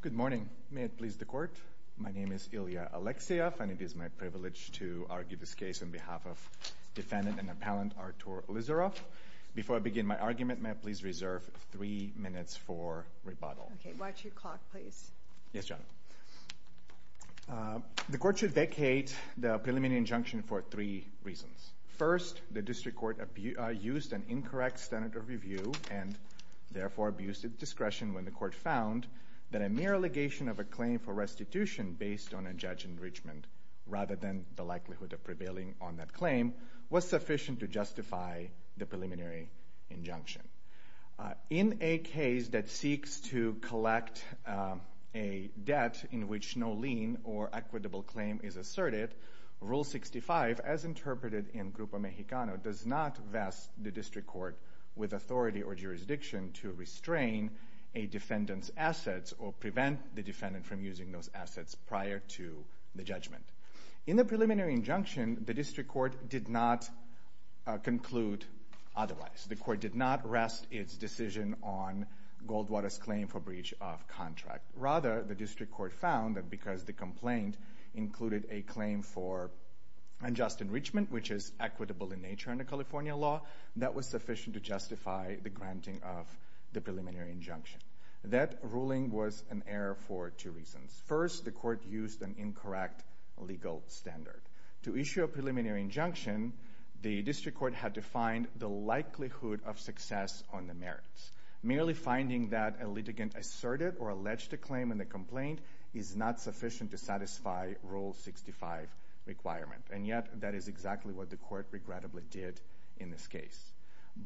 Good morning. May it please the Court. My name is Ilya Alexeev and it is my privilege to argue this case on behalf of defendant and appellant Artur Elizarov. Before I begin my argument, may I please reserve three minutes for rebuttal. Okay. Watch your clock, please. Yes, Your Honor. The Court should vacate the preliminary injunction for three reasons. First, the District Court used an incorrect standard of review and therefore abused its discretion when the Court found that a mere allegation of a claim for restitution based on a judge's enrichment rather than the likelihood of prevailing on that claim was sufficient to justify the preliminary injunction. In a case that seeks to collect a debt in which no lien or equitable claim is asserted, Rule 65, as interpreted in Grupo Mexicano, does not vest the District Court with authority or jurisdiction to restrain a defendant's assets or prevent the defendant from using those assets prior to the judgment. In the preliminary injunction, the District Court did not conclude otherwise. The Court did not rest its decision on Goldwater's claim for breach of contract. Rather, the District Court found that because the complaint included a claim for unjust enrichment, which is equitable in nature under California law, that was sufficient to justify the granting of the preliminary injunction. That ruling was an error for two reasons. First, the Court used an incorrect legal standard. To issue a preliminary injunction, the District Court had to find the likelihood of success on the merits. Merely finding that a litigant asserted or alleged a claim in the complaint is not sufficient to satisfy Rule 65 requirement. And yet, that is exactly what the Court regrettably did in this case.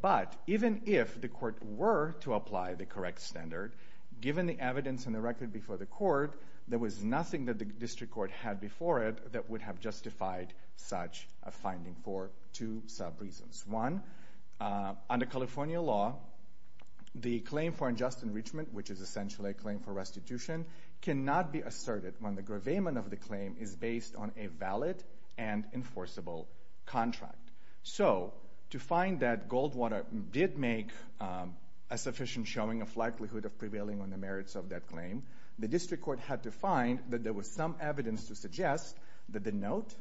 But, even if the Court were to apply the correct standard, given the evidence and the record before the Court, there was nothing that the District Court had before it that would have justified such a finding for two sub-reasons. One, under California law, the claim for unjust enrichment, which is essentially a claim for restitution, cannot be asserted when the gravamen of the claim is based on a valid and enforceable contract. So, to find that Goldwater did make a sufficient showing of likelihood of prevailing on the merits of that claim, the District Court had to find that there was some evidence to suggest that the note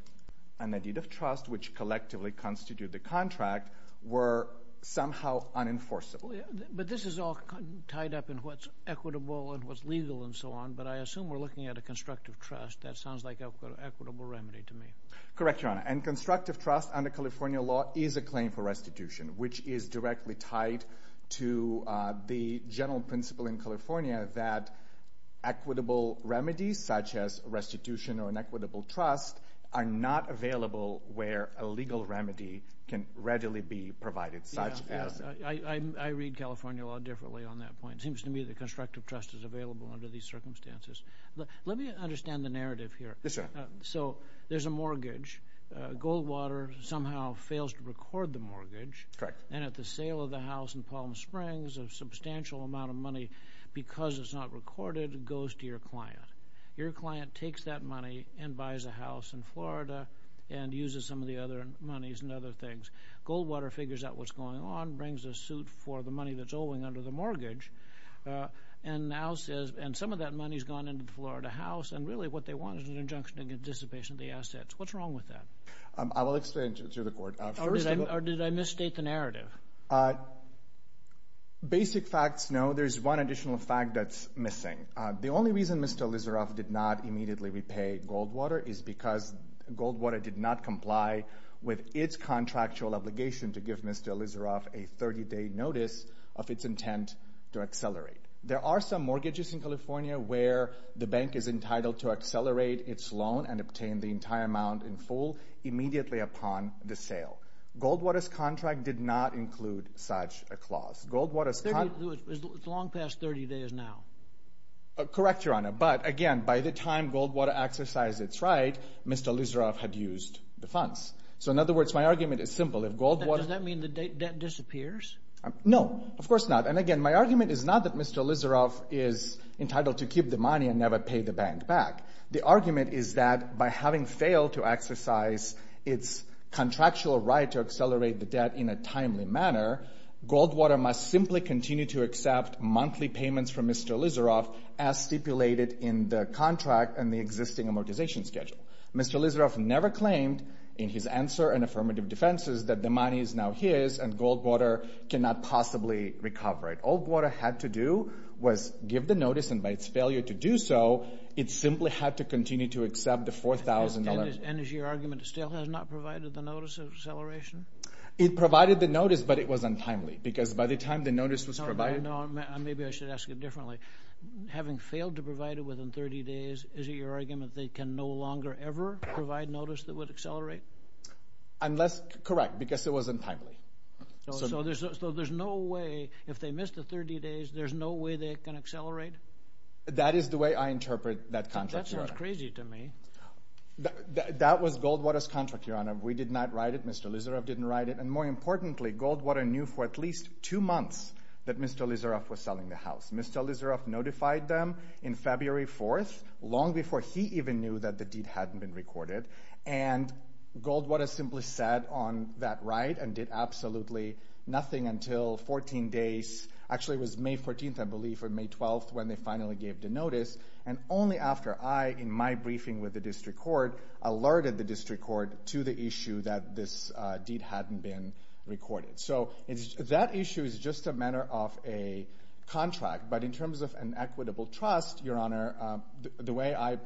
and the deed of trust, which collectively constitute the contract, were somehow unenforceable. But this is all tied up in what's equitable and what's legal and so on, but I assume we're looking at a constructive trust. That sounds like an equitable remedy to me. Correct, Your Honor. And constructive trust under California law is a claim for restitution, which is directly tied to the general principle in California that equitable remedies, such as restitution or an equitable trust, are not available where a legal remedy can readily be provided. I read California law differently on that point. It seems to me that constructive trust is available under these circumstances. Let me understand the narrative here. Yes, sir. So, there's a mortgage. Goldwater somehow fails to record the mortgage. Correct. And at the sale of the house in Palm Springs, a substantial amount of money, because it's not recorded, goes to your client. Your client takes that money and buys a house in Florida and uses some of the other monies and other things. Goldwater figures out what's going on, brings a suit for the money that's owing under the mortgage, and now says, and some of that money has gone into the Florida house, and really what they want is an injunction to dissipation of the assets. What's wrong with that? I will explain to the Court. Or did I misstate the narrative? Basic facts, no. There's one additional fact that's missing. The only reason Mr. Lizeroff did not immediately repay Goldwater is because Goldwater did not comply with its contractual obligation to give Mr. Lizeroff a 30-day notice of its intent to accelerate. There are some mortgages in California where the bank is entitled to accelerate its loan and obtain the entire amount in full immediately upon the sale. Goldwater's contract did not include such a clause. It's long past 30 days now. Correct, Your Honor. But, again, by the time Goldwater exercised its right, Mr. Lizeroff had used the funds. So, in other words, my argument is simple. Does that mean the debt disappears? No, of course not. And, again, my argument is not that Mr. Lizeroff is entitled to keep the money and never pay the bank back. The argument is that by having failed to exercise its contractual right to accelerate the debt in a timely manner, Goldwater must simply continue to accept monthly payments from Mr. Lizeroff as stipulated in the contract and the existing amortization schedule. Mr. Lizeroff never claimed in his answer and affirmative defenses that the money is now his and Goldwater cannot possibly recover it. All Goldwater had to do was give the notice, and by its failure to do so, it simply had to continue to accept the $4,000. And is your argument it still has not provided the notice of acceleration? It provided the notice, but it was untimely, because by the time the notice was provided... No, maybe I should ask it differently. Having failed to provide it within 30 days, is it your argument they can no longer ever provide notice that would accelerate? Correct, because it wasn't timely. So there's no way, if they missed the 30 days, there's no way they can accelerate? That is the way I interpret that contract, Your Honor. That sounds crazy to me. That was Goldwater's contract, Your Honor. We did not write it. Mr. Lizeroff didn't write it. And more importantly, Goldwater knew for at least two months that Mr. Lizeroff was selling the house. Mr. Lizeroff notified them in February 4th, long before he even knew that the deed hadn't been recorded, and Goldwater simply sat on that right and did absolutely nothing until 14 days. Actually, it was May 14th, I believe, or May 12th when they finally gave the notice, and only after I, in my briefing with the district court, alerted the district court to the issue that this deed hadn't been recorded. So that issue is just a matter of a contract, but in terms of an equitable trust, Your Honor, the way I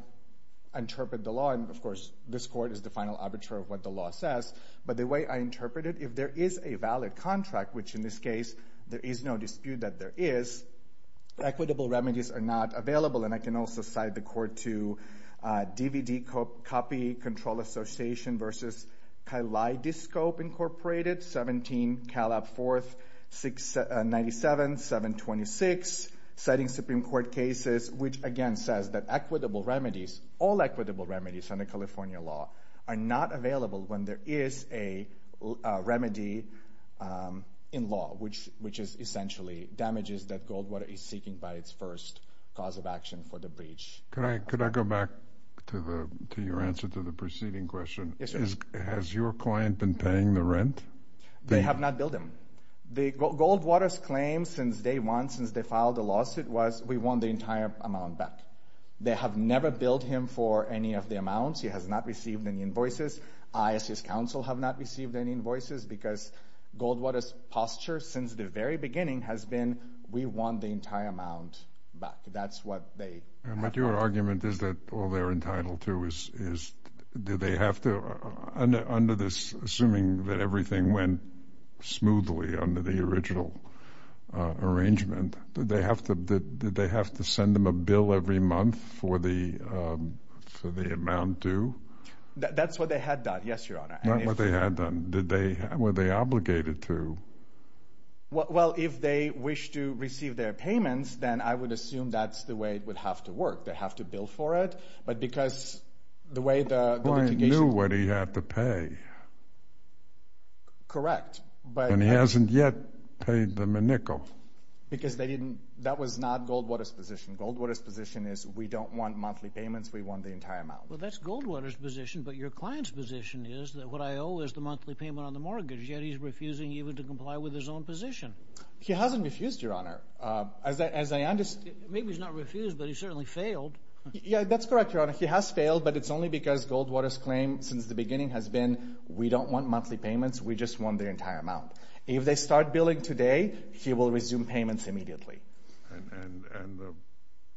interpret the law, and of course this court is the final arbiter of what the law says, but the way I interpret it, if there is a valid contract, which in this case there is no dispute that there is, equitable remedies are not available, and I can also cite the court to DVD copy, Control Association versus Kaleidoscope Incorporated, 17 Calab 4th, 97, 726, citing Supreme Court cases, which again says that equitable remedies, all equitable remedies under California law, are not available when there is a remedy in law, which is essentially damages that Goldwater is seeking by its first cause of action for the breach. Could I go back to your answer to the preceding question? Yes, sir. Has your client been paying the rent? They have not billed him. Goldwater's claim since day one, since they filed the lawsuit, was we want the entire amount back. They have never billed him for any of the amounts. He has not received any invoices. I, as his counsel, have not received any invoices because Goldwater's posture since the very beginning has been we want the entire amount back. That's what they have done. But your argument is that all they're entitled to is, did they have to, under this, assuming that everything went smoothly under the original arrangement, did they have to send them a bill every month for the amount due? That's what they had done, yes, Your Honor. That's what they had done. Were they obligated to? Well, if they wish to receive their payments, then I would assume that's the way it would have to work. They have to bill for it, but because the way the litigation— The client knew what he had to pay. Correct, but— And he hasn't yet paid them a nickel. Because that was not Goldwater's position. Goldwater's position is we don't want monthly payments. We want the entire amount. Well, that's Goldwater's position, but your client's position is that what I owe is the monthly payment on the mortgage, yet he's refusing even to comply with his own position. He hasn't refused, Your Honor. Maybe he's not refused, but he's certainly failed. Yeah, that's correct, Your Honor. He has failed, but it's only because Goldwater's claim since the beginning has been we don't want monthly payments, we just want the entire amount. If they start billing today, he will resume payments immediately.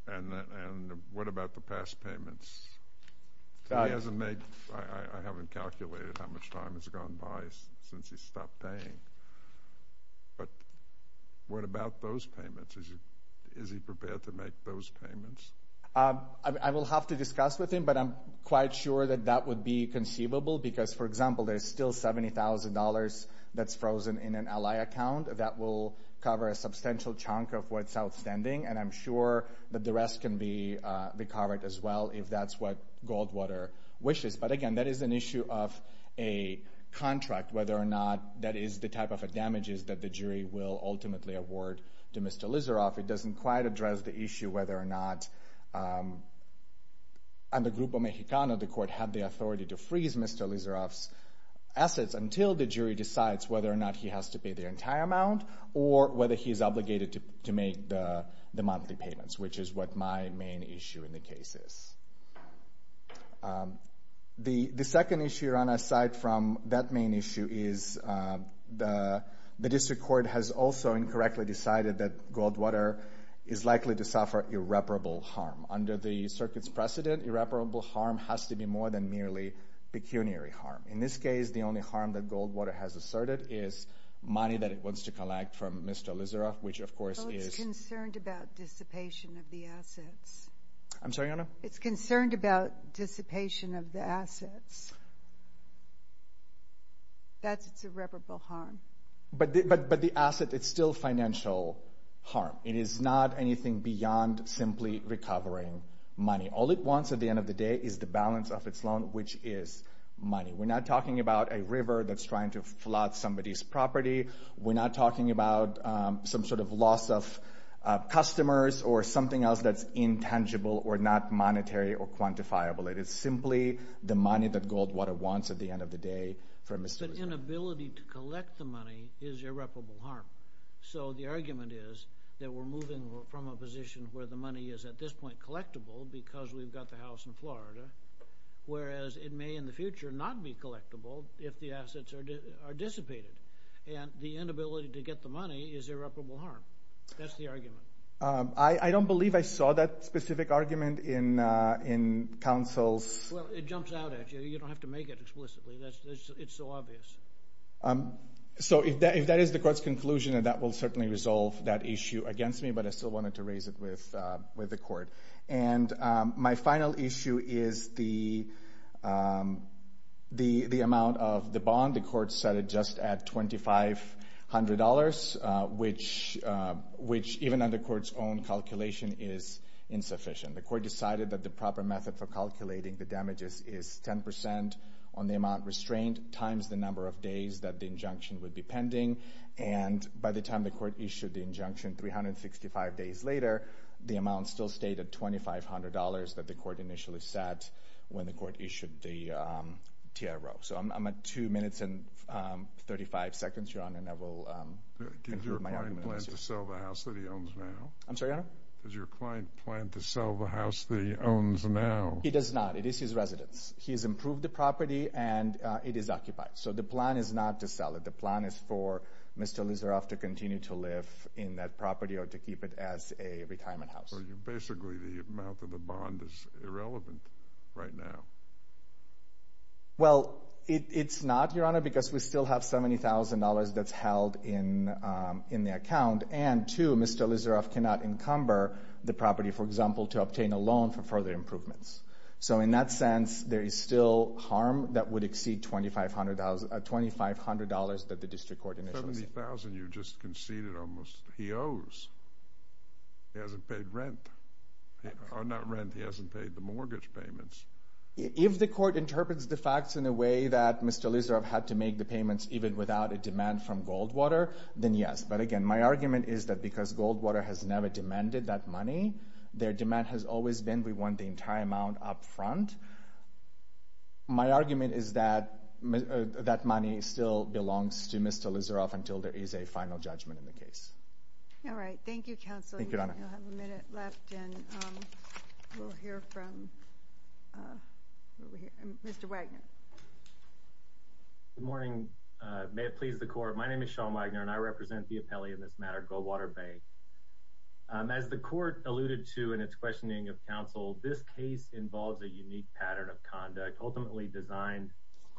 And what about the past payments? He hasn't made—I haven't calculated how much time has gone by since he stopped paying. But what about those payments? Is he prepared to make those payments? I will have to discuss with him, but I'm quite sure that that would be conceivable because, for example, there's still $70,000 that's frozen in an ally account. That will cover a substantial chunk of what's outstanding, and I'm sure that the rest can be covered as well if that's what Goldwater wishes. But, again, that is an issue of a contract, whether or not that is the type of damages that the jury will ultimately award to Mr. Lizeroff. It doesn't quite address the issue whether or not the Grupo Mexicano, the court, had the authority to freeze Mr. Lizeroff's assets until the jury decides whether or not he has to pay the entire amount or whether he is obligated to make the monthly payments, which is what my main issue in the case is. The second issue, Ron, aside from that main issue, is the district court has also incorrectly decided that Goldwater is likely to suffer irreparable harm. Under the circuit's precedent, irreparable harm has to be more than merely pecuniary harm. In this case, the only harm that Goldwater has asserted is money that it wants to collect from Mr. Lizeroff, which, of course, is... Oh, it's concerned about dissipation of the assets. I'm sorry, Your Honor? It's concerned about dissipation of the assets. That's its irreparable harm. But the asset, it's still financial harm. It is not anything beyond simply recovering money. All it wants at the end of the day is the balance of its loan, which is money. We're not talking about a river that's trying to flood somebody's property. We're not talking about some sort of loss of customers or something else that's intangible or not monetary or quantifiable. It is simply the money that Goldwater wants at the end of the day from Mr. Lizeroff. But inability to collect the money is irreparable harm. So the argument is that we're moving from a position where the money is at this point collectible because we've got the house in Florida, whereas it may in the future not be collectible if the assets are dissipated. And the inability to get the money is irreparable harm. That's the argument. I don't believe I saw that specific argument in counsel's... Well, it jumps out at you. You don't have to make it explicitly. It's so obvious. So if that is the court's conclusion, then that will certainly resolve that issue against me, but I still wanted to raise it with the court. And my final issue is the amount of the bond. The court set it just at $2,500, which even under court's own calculation is insufficient. The court decided that the proper method for calculating the damages is 10% on the amount restrained times the number of days that the injunction would be pending. And by the time the court issued the injunction 365 days later, the amount still stayed at $2,500 that the court initially set when the court issued the TRO. So I'm at 2 minutes and 35 seconds, Your Honor, and I will conclude my argument. Does your client plan to sell the house that he owns now? I'm sorry, Your Honor? Does your client plan to sell the house that he owns now? He does not. It is his residence. He has improved the property, and it is occupied. So the plan is not to sell it. The plan is for Mr. Lizeroff to continue to live in that property or to keep it as a retirement house. Basically, the amount of the bond is irrelevant right now. Well, it's not, Your Honor, because we still have $70,000 that's held in the account. And, two, Mr. Lizeroff cannot encumber the property, for example, to obtain a loan for further improvements. So in that sense, there is still harm that would exceed $2,500 that the district court initially set. $70,000 you just conceded almost he owes. He hasn't paid rent. Or not rent. He hasn't paid the mortgage payments. If the court interprets the facts in a way that Mr. Lizeroff had to make the payments even without a demand from Goldwater, then yes. But, again, my argument is that because Goldwater has never demanded that money, their demand has always been we want the entire amount up front. My argument is that that money still belongs to Mr. Lizeroff until there is a final judgment in the case. All right. Thank you, Counsel. Thank you, Your Honor. We'll have a minute left, and we'll hear from Mr. Wagner. Good morning. May it please the Court. My name is Sean Wagner, and I represent the appellee in this matter, Goldwater Bay. As the court alluded to in its questioning of counsel, this case involves a unique pattern of conduct, ultimately designed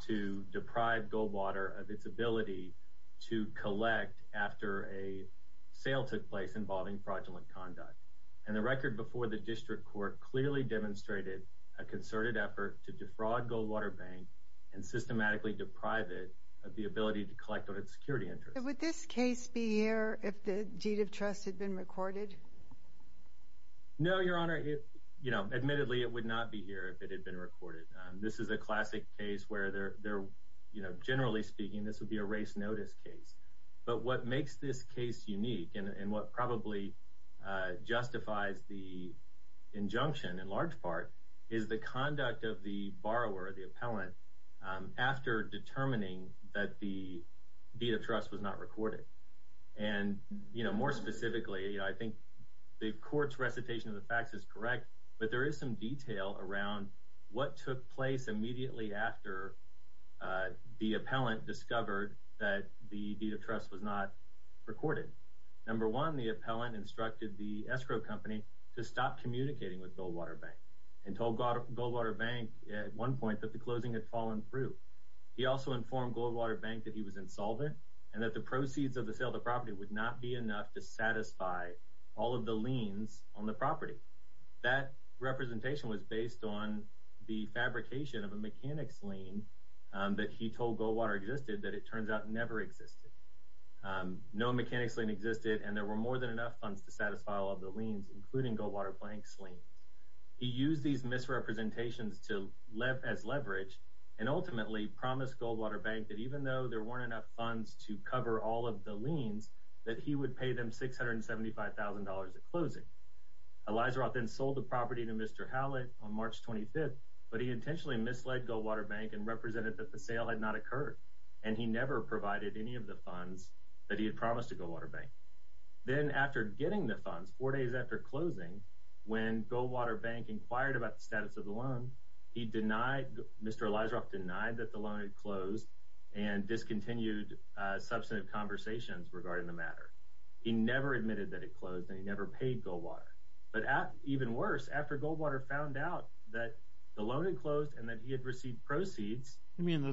to deprive Goldwater of its ability to collect after a sale took place involving fraudulent conduct. And the record before the district court clearly demonstrated a concerted effort to defraud Goldwater Bank and systematically deprive it of the ability to collect on its security interests. So would this case be here if the deed of trust had been recorded? No, Your Honor. Admittedly, it would not be here if it had been recorded. This is a classic case where, generally speaking, this would be a race notice case. But what makes this case unique, and what probably justifies the injunction in large part, is the conduct of the borrower, the appellant, after determining that the deed of trust was not recorded. And more specifically, I think the court's recitation of the facts is correct, but there is some detail around what took place immediately after the appellant discovered that the deed of trust was not recorded. Number one, the appellant instructed the escrow company to stop communicating with Goldwater Bank and told Goldwater Bank at one point that the closing had fallen through. He also informed Goldwater Bank that he was insolvent and that the proceeds of the sale of the property would not be enough to satisfy all of the liens on the property. That representation was based on the fabrication of a mechanics lien that he told Goldwater existed that it turns out never existed. No mechanics lien existed, and there were more than enough funds to satisfy all of the liens, including Goldwater Bank's lien. He used these misrepresentations as leverage and ultimately promised Goldwater Bank that even though there weren't enough funds to cover all of the liens, that he would pay them $675,000 at closing. Elizaroth then sold the property to Mr. Hallett on March 25th, but he intentionally misled Goldwater Bank and represented that the sale had not occurred, and he never provided any of the funds that he had promised to Goldwater Bank. Then after getting the funds, four days after closing, when Goldwater Bank inquired about the status of the loan, Mr. Elizaroth denied that the loan had closed and discontinued substantive conversations regarding the matter. He never admitted that it closed, and he never paid Goldwater. But even worse, after Goldwater found out that the loan had closed and that he had received proceeds— Yeah,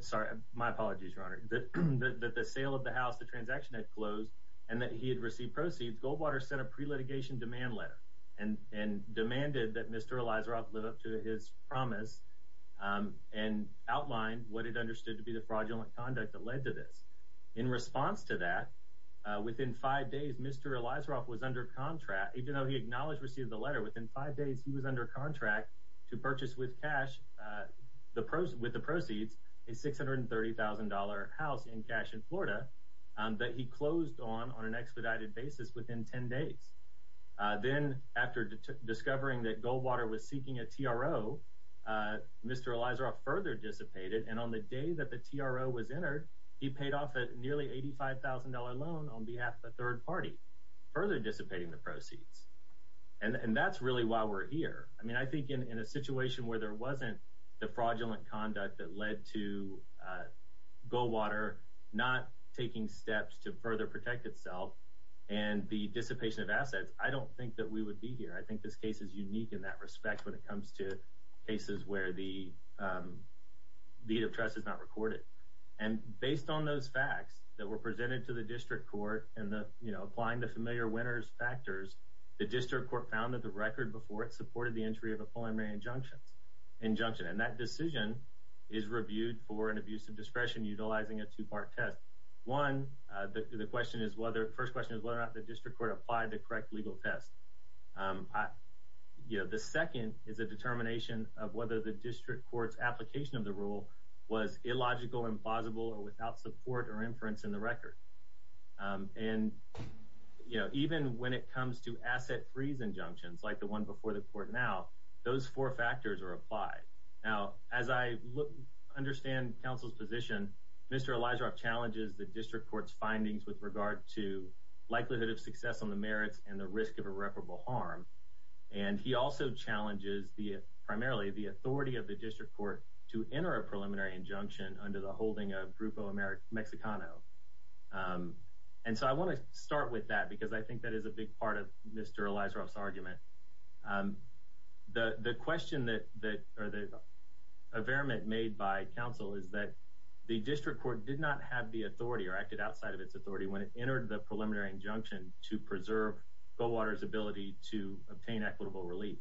sorry. My apologies, Your Honor. That the sale of the house, the transaction had closed, and that he had received proceeds, Goldwater sent a pre-litigation demand letter and demanded that Mr. Elizaroth live up to his promise and outline what it understood to be the fraudulent conduct that led to this. In response to that, within five days, Mr. Elizaroth was under contract. With the proceeds, a $630,000 house in Cashen, Florida that he closed on on an expedited basis within 10 days. Then after discovering that Goldwater was seeking a TRO, Mr. Elizaroth further dissipated, and on the day that the TRO was entered, he paid off a nearly $85,000 loan on behalf of a third party, further dissipating the proceeds. And that's really why we're here. I mean, I think in a situation where there wasn't the fraudulent conduct that led to Goldwater not taking steps to further protect itself and the dissipation of assets, I don't think that we would be here. I think this case is unique in that respect when it comes to cases where the deed of trust is not recorded. And based on those facts that were presented to the district court, and applying the familiar winner's factors, the district court found that the record before it supported the entry of a preliminary injunction. And that decision is reviewed for an abuse of discretion utilizing a two-part test. One, the first question is whether or not the district court applied the correct legal test. The second is a determination of whether the district court's application of the rule was illogical, implausible, or without support or inference in the record. And, you know, even when it comes to asset freeze injunctions like the one before the court now, those four factors are applied. Now, as I understand counsel's position, Mr. Elizaroff challenges the district court's findings with regard to likelihood of success on the merits and the risk of irreparable harm. And he also challenges primarily the authority of the district court to enter a preliminary injunction under the holding of Grupo Mexicano. And so I want to start with that because I think that is a big part of Mr. Elizaroff's argument. The question that—or the affirmation made by counsel is that the district court did not have the authority or acted outside of its authority when it entered the preliminary injunction to preserve Goldwater's ability to obtain equitable relief.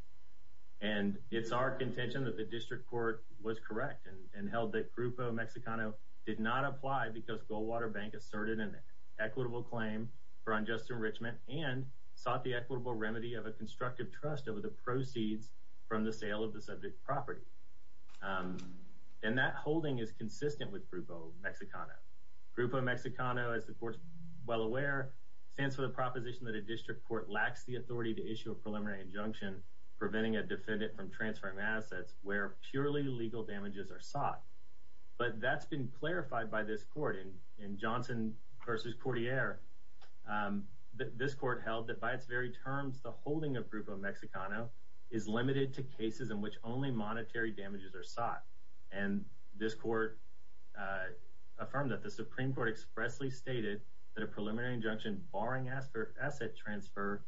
And it's our contention that the district court was correct and held that Grupo Mexicano did not apply because Goldwater Bank asserted an equitable claim for unjust enrichment and sought the equitable remedy of a constructive trust over the proceeds from the sale of the subject property. And that holding is consistent with Grupo Mexicano. Grupo Mexicano, as the court's well aware, stands for the proposition that a district court lacks the authority to issue a preliminary injunction preventing a defendant from transferring assets where purely legal damages are sought. But that's been clarified by this court. In Johnson v. Courtier, this court held that by its very terms, the holding of Grupo Mexicano is limited to cases in which only monetary damages are sought. And this court affirmed that the Supreme Court expressly stated that a preliminary injunction barring asset transfer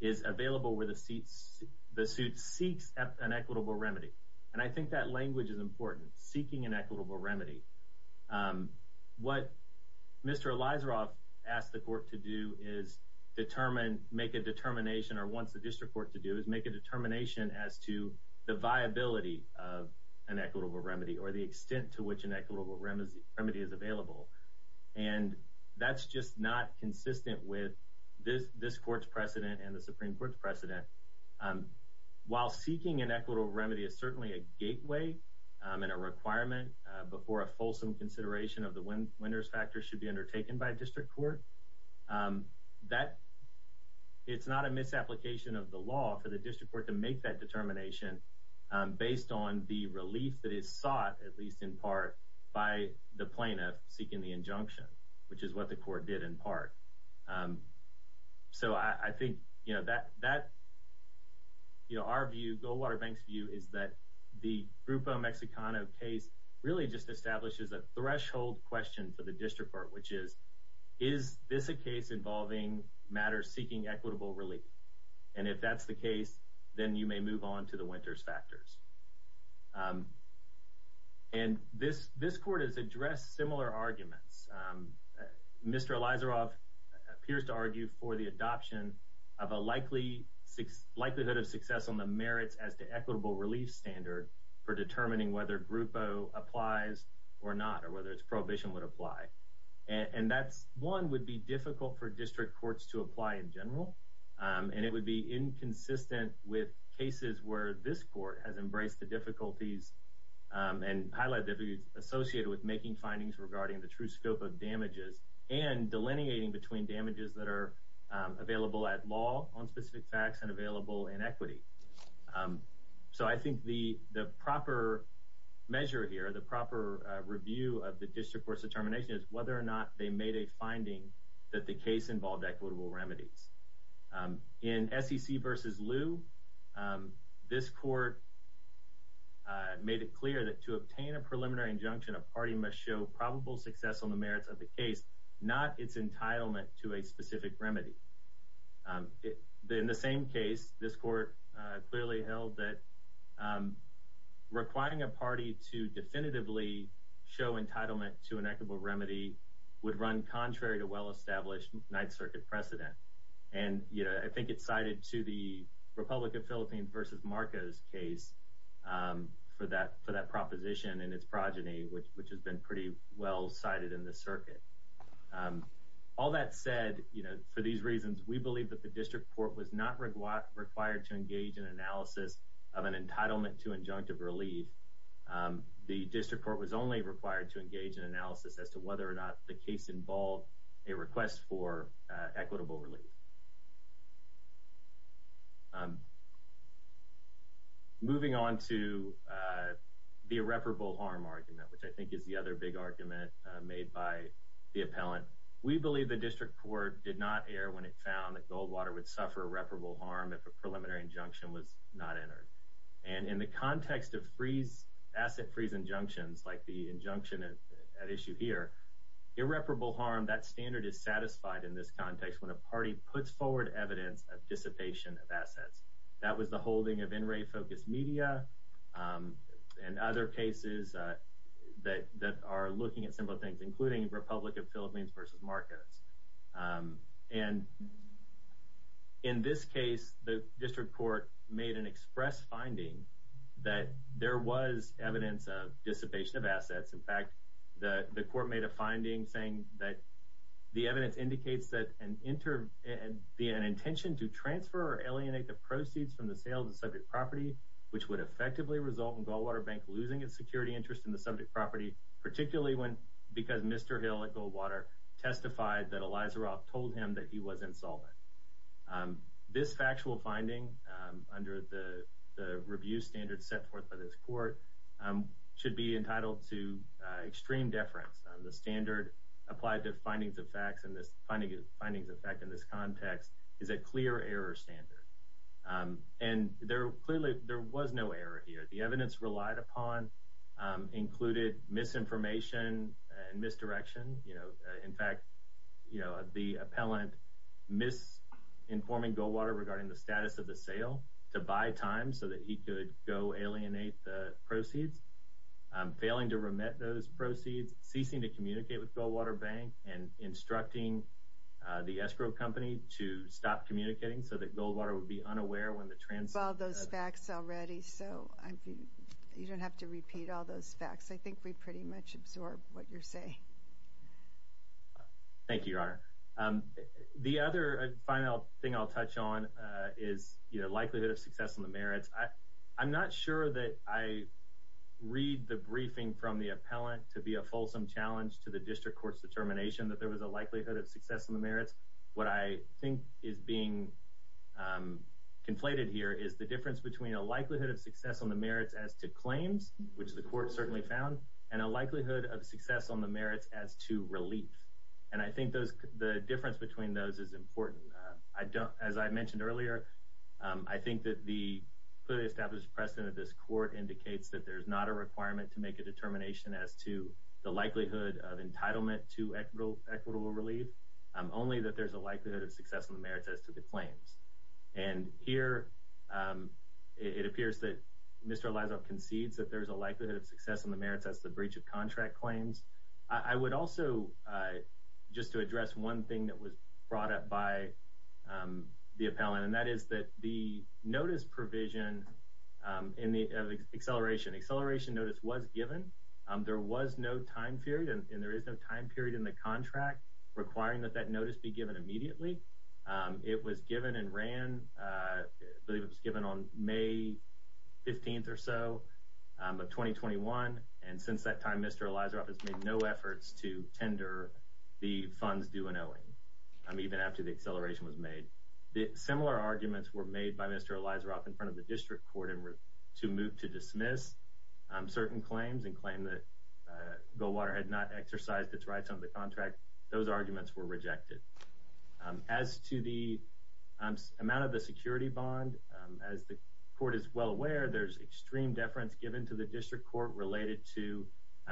is available where the suit seeks an equitable remedy. And I think that language is important. Seeking an equitable remedy. What Mr. Elizaroff asked the court to do is make a determination or wants the district court to do is make a determination as to the viability of an equitable remedy or the extent to which an equitable remedy is available. And that's just not consistent with this court's precedent and the Supreme Court's precedent. While seeking an equitable remedy is certainly a gateway and a requirement before a fulsome consideration of the winner's factor should be undertaken by a district court, it's not a misapplication of the law for the district court to make that determination based on the relief that is sought, at least in part, by the plaintiff seeking the injunction, which is what the court did in part. So I think that our view, Goldwater Bank's view, is that the Grupo Mexicano case really just establishes a threshold question for the district court, which is, is this a case involving matters seeking equitable relief? And if that's the case, then you may move on to the winner's factors. And this court has addressed similar arguments. Mr. Elizaroff appears to argue for the adoption of a likelihood of success on the merits as to equitable relief standard for determining whether Grupo applies or not or whether its prohibition would apply. And that, one, would be difficult for district courts to apply in general, and it would be inconsistent with cases where this court has embraced the difficulties and high likelihood associated with making findings regarding the true scope of damages and delineating between damages that are available at law on specific facts and available in equity. So I think the proper measure here, the proper review of the district court's determination is whether or not they made a finding that the case involved equitable remedies. In SEC v. Lew, this court made it clear that to obtain a preliminary injunction, a party must show probable success on the merits of the case, not its entitlement to a specific remedy. In the same case, this court clearly held that requiring a party to definitively show entitlement to an equitable remedy would run contrary to well-established Ninth Circuit precedent. And, you know, I think it's cited to the Republic of Philippines v. Marcos case for that proposition and its progeny, which has been pretty well cited in the circuit. All that said, you know, for these reasons, we believe that the district court was not required to engage in analysis of an entitlement to injunctive relief. The district court was only required to engage in analysis as to whether or not the case involved a request for equitable relief. Moving on to the irreparable harm argument, which I think is the other big argument made by the appellant, we believe the district court did not err when it found that Goldwater would suffer irreparable harm if a preliminary injunction was not entered. And in the context of asset freeze injunctions, like the injunction at issue here, irreparable harm, that standard is satisfied in this context when a party puts forward evidence of dissipation of assets. That was the holding of NRA-focused media and other cases that are looking at similar things, including Republic of Philippines v. Marcos. And in this case, the district court made an express finding that there was evidence of dissipation of assets. In fact, the court made a finding saying that the evidence indicates that an intention to transfer or alienate the proceeds from the sale of the subject property, which would effectively result in Goldwater Bank losing its security interest in the subject property, particularly because Mr. Hill at Goldwater testified that Elizaroff told him that he was insolvent. This factual finding, under the review standards set forth by this court, should be entitled to extreme deference. The standard applied to findings of fact in this context is a clear error standard. And clearly, there was no error here. The evidence relied upon included misinformation and misdirection. In fact, the appellant misinforming Goldwater regarding the status of the sale to buy time so that he could go alienate the proceeds, failing to remit those proceeds, ceasing to communicate with Goldwater Bank, and instructing the escrow company to stop communicating so that Goldwater would be unaware when the transfer— I think we've covered all those facts already, so you don't have to repeat all those facts. I think we pretty much absorbed what you're saying. Thank you, Your Honor. The other final thing I'll touch on is the likelihood of success on the merits. I'm not sure that I read the briefing from the appellant to be a fulsome challenge to the district court's determination that there was a likelihood of success on the merits. What I think is being conflated here is the difference between a likelihood of success on the merits as to claims, which the court certainly found, and a likelihood of success on the merits as to relief. And I think the difference between those is important. As I mentioned earlier, I think that the clearly established precedent of this court indicates that there's not a requirement to make a determination as to the likelihood of entitlement to equitable relief, only that there's a likelihood of success on the merits as to the claims. And here it appears that Mr. Elizoff concedes that there's a likelihood of success on the merits as to the breach of contract claims. I would also, just to address one thing that was brought up by the appellant, and that is that the notice provision in the acceleration notice was given. There was no time period, and there is no time period in the contract requiring that that notice be given immediately. It was given and ran, I believe it was given on May 15th or so of 2021. And since that time, Mr. Elizoff has made no efforts to tender the funds due and owing, even after the acceleration was made. Similar arguments were made by Mr. Elizoff in front of the district court to move to dismiss certain claims and claim that Goldwater had not exercised its rights under the contract. Those arguments were rejected. As to the amount of the security bond, as the court is well aware, there's extreme deference given to the district court related to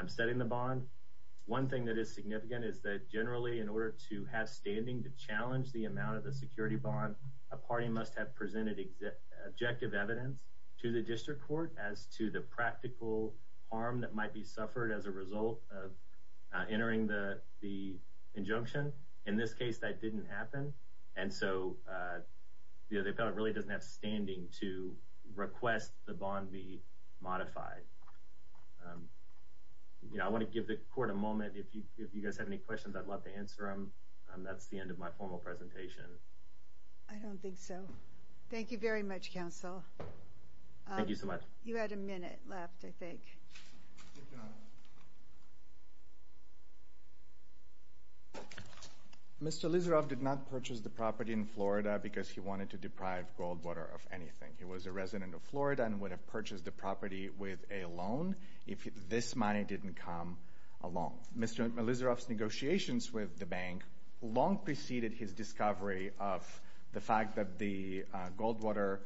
setting the bond. One thing that is significant is that generally in order to have standing to challenge the amount of the security bond, a party must have presented objective evidence to the district court as to the practical harm that might be suffered as a result of entering the injunction. In this case, that didn't happen. And so the appellant really doesn't have standing to request the bond be modified. I want to give the court a moment. If you guys have any questions, I'd love to answer them. That's the end of my formal presentation. I don't think so. Thank you very much, counsel. Thank you so much. You had a minute left, I think. Mr. Elizoff did not purchase the property in Florida because he wanted to deprive Goldwater of anything. He was a resident of Florida and would have purchased the property with a loan if this money didn't come along. Mr. Elizoff's negotiations with the bank long preceded his discovery of the fact that the Goldwater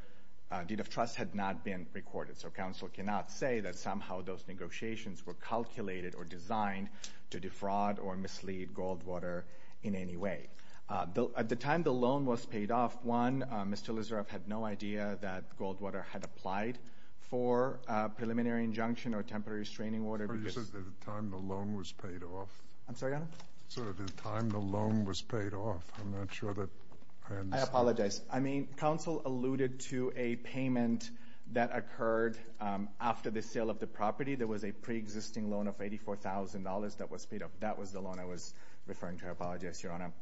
deed of trust had not been recorded. So counsel cannot say that somehow those negotiations were calculated or designed to defraud or mislead Goldwater in any way. At the time the loan was paid off, one, Mr. Elizoff had no idea that Goldwater had applied for a preliminary injunction or temporary restraining order. You said at the time the loan was paid off. I'm sorry, Your Honor? You said at the time the loan was paid off. I'm not sure that I understand. I apologize. I mean, counsel alluded to a payment that occurred after the sale of the property. There was a preexisting loan of $84,000 that was paid off. That was the loan I was referring to. I apologize, Your Honor.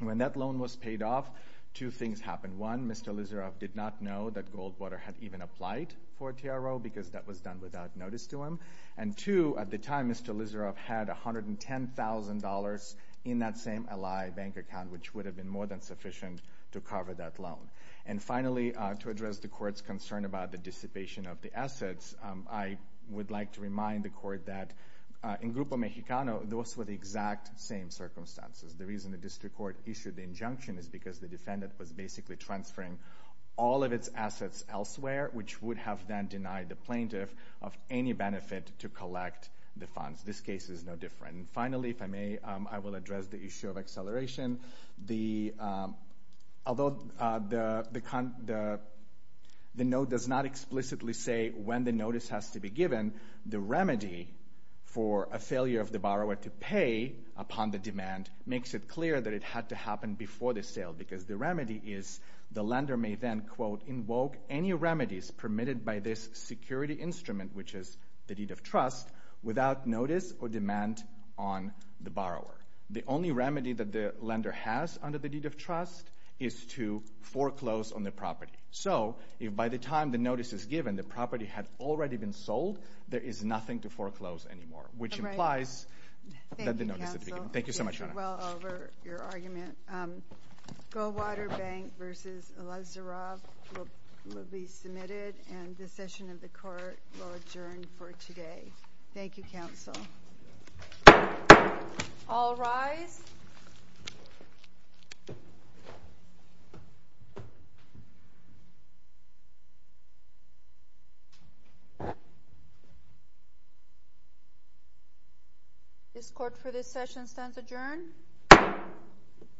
When that loan was paid off, two things happened. One, Mr. Elizoff did not know that Goldwater had even applied for a TRO because that was done without notice to him. And two, at the time, Mr. Elizoff had $110,000 in that same ally bank account, which would have been more than sufficient to cover that loan. And finally, to address the Court's concern about the dissipation of the assets, I would like to remind the Court that in Grupo Mexicano, those were the exact same circumstances. The reason the district court issued the injunction is because the defendant was basically transferring all of its assets elsewhere, which would have then denied the plaintiff of any benefit to collect the funds. This case is no different. And finally, if I may, I will address the issue of acceleration. Although the note does not explicitly say when the notice has to be given, the remedy for a failure of the borrower to pay upon the demand makes it clear that it had to happen before the sale because the remedy is the lender may then, quote, invoke any remedies permitted by this security instrument, which is the deed of trust, without notice or demand on the borrower. The only remedy that the lender has under the deed of trust is to foreclose on the property. So if by the time the notice is given, the property had already been sold, there is nothing to foreclose anymore, which implies that the notice had to be given. Thank you so much, Your Honor. Thank you, Counsel. It went well over your argument. Goldwater Bank v. Elizoroff will be submitted, and the session of the Court will adjourn for today. Thank you, Counsel. All rise. This Court for this session stands adjourned.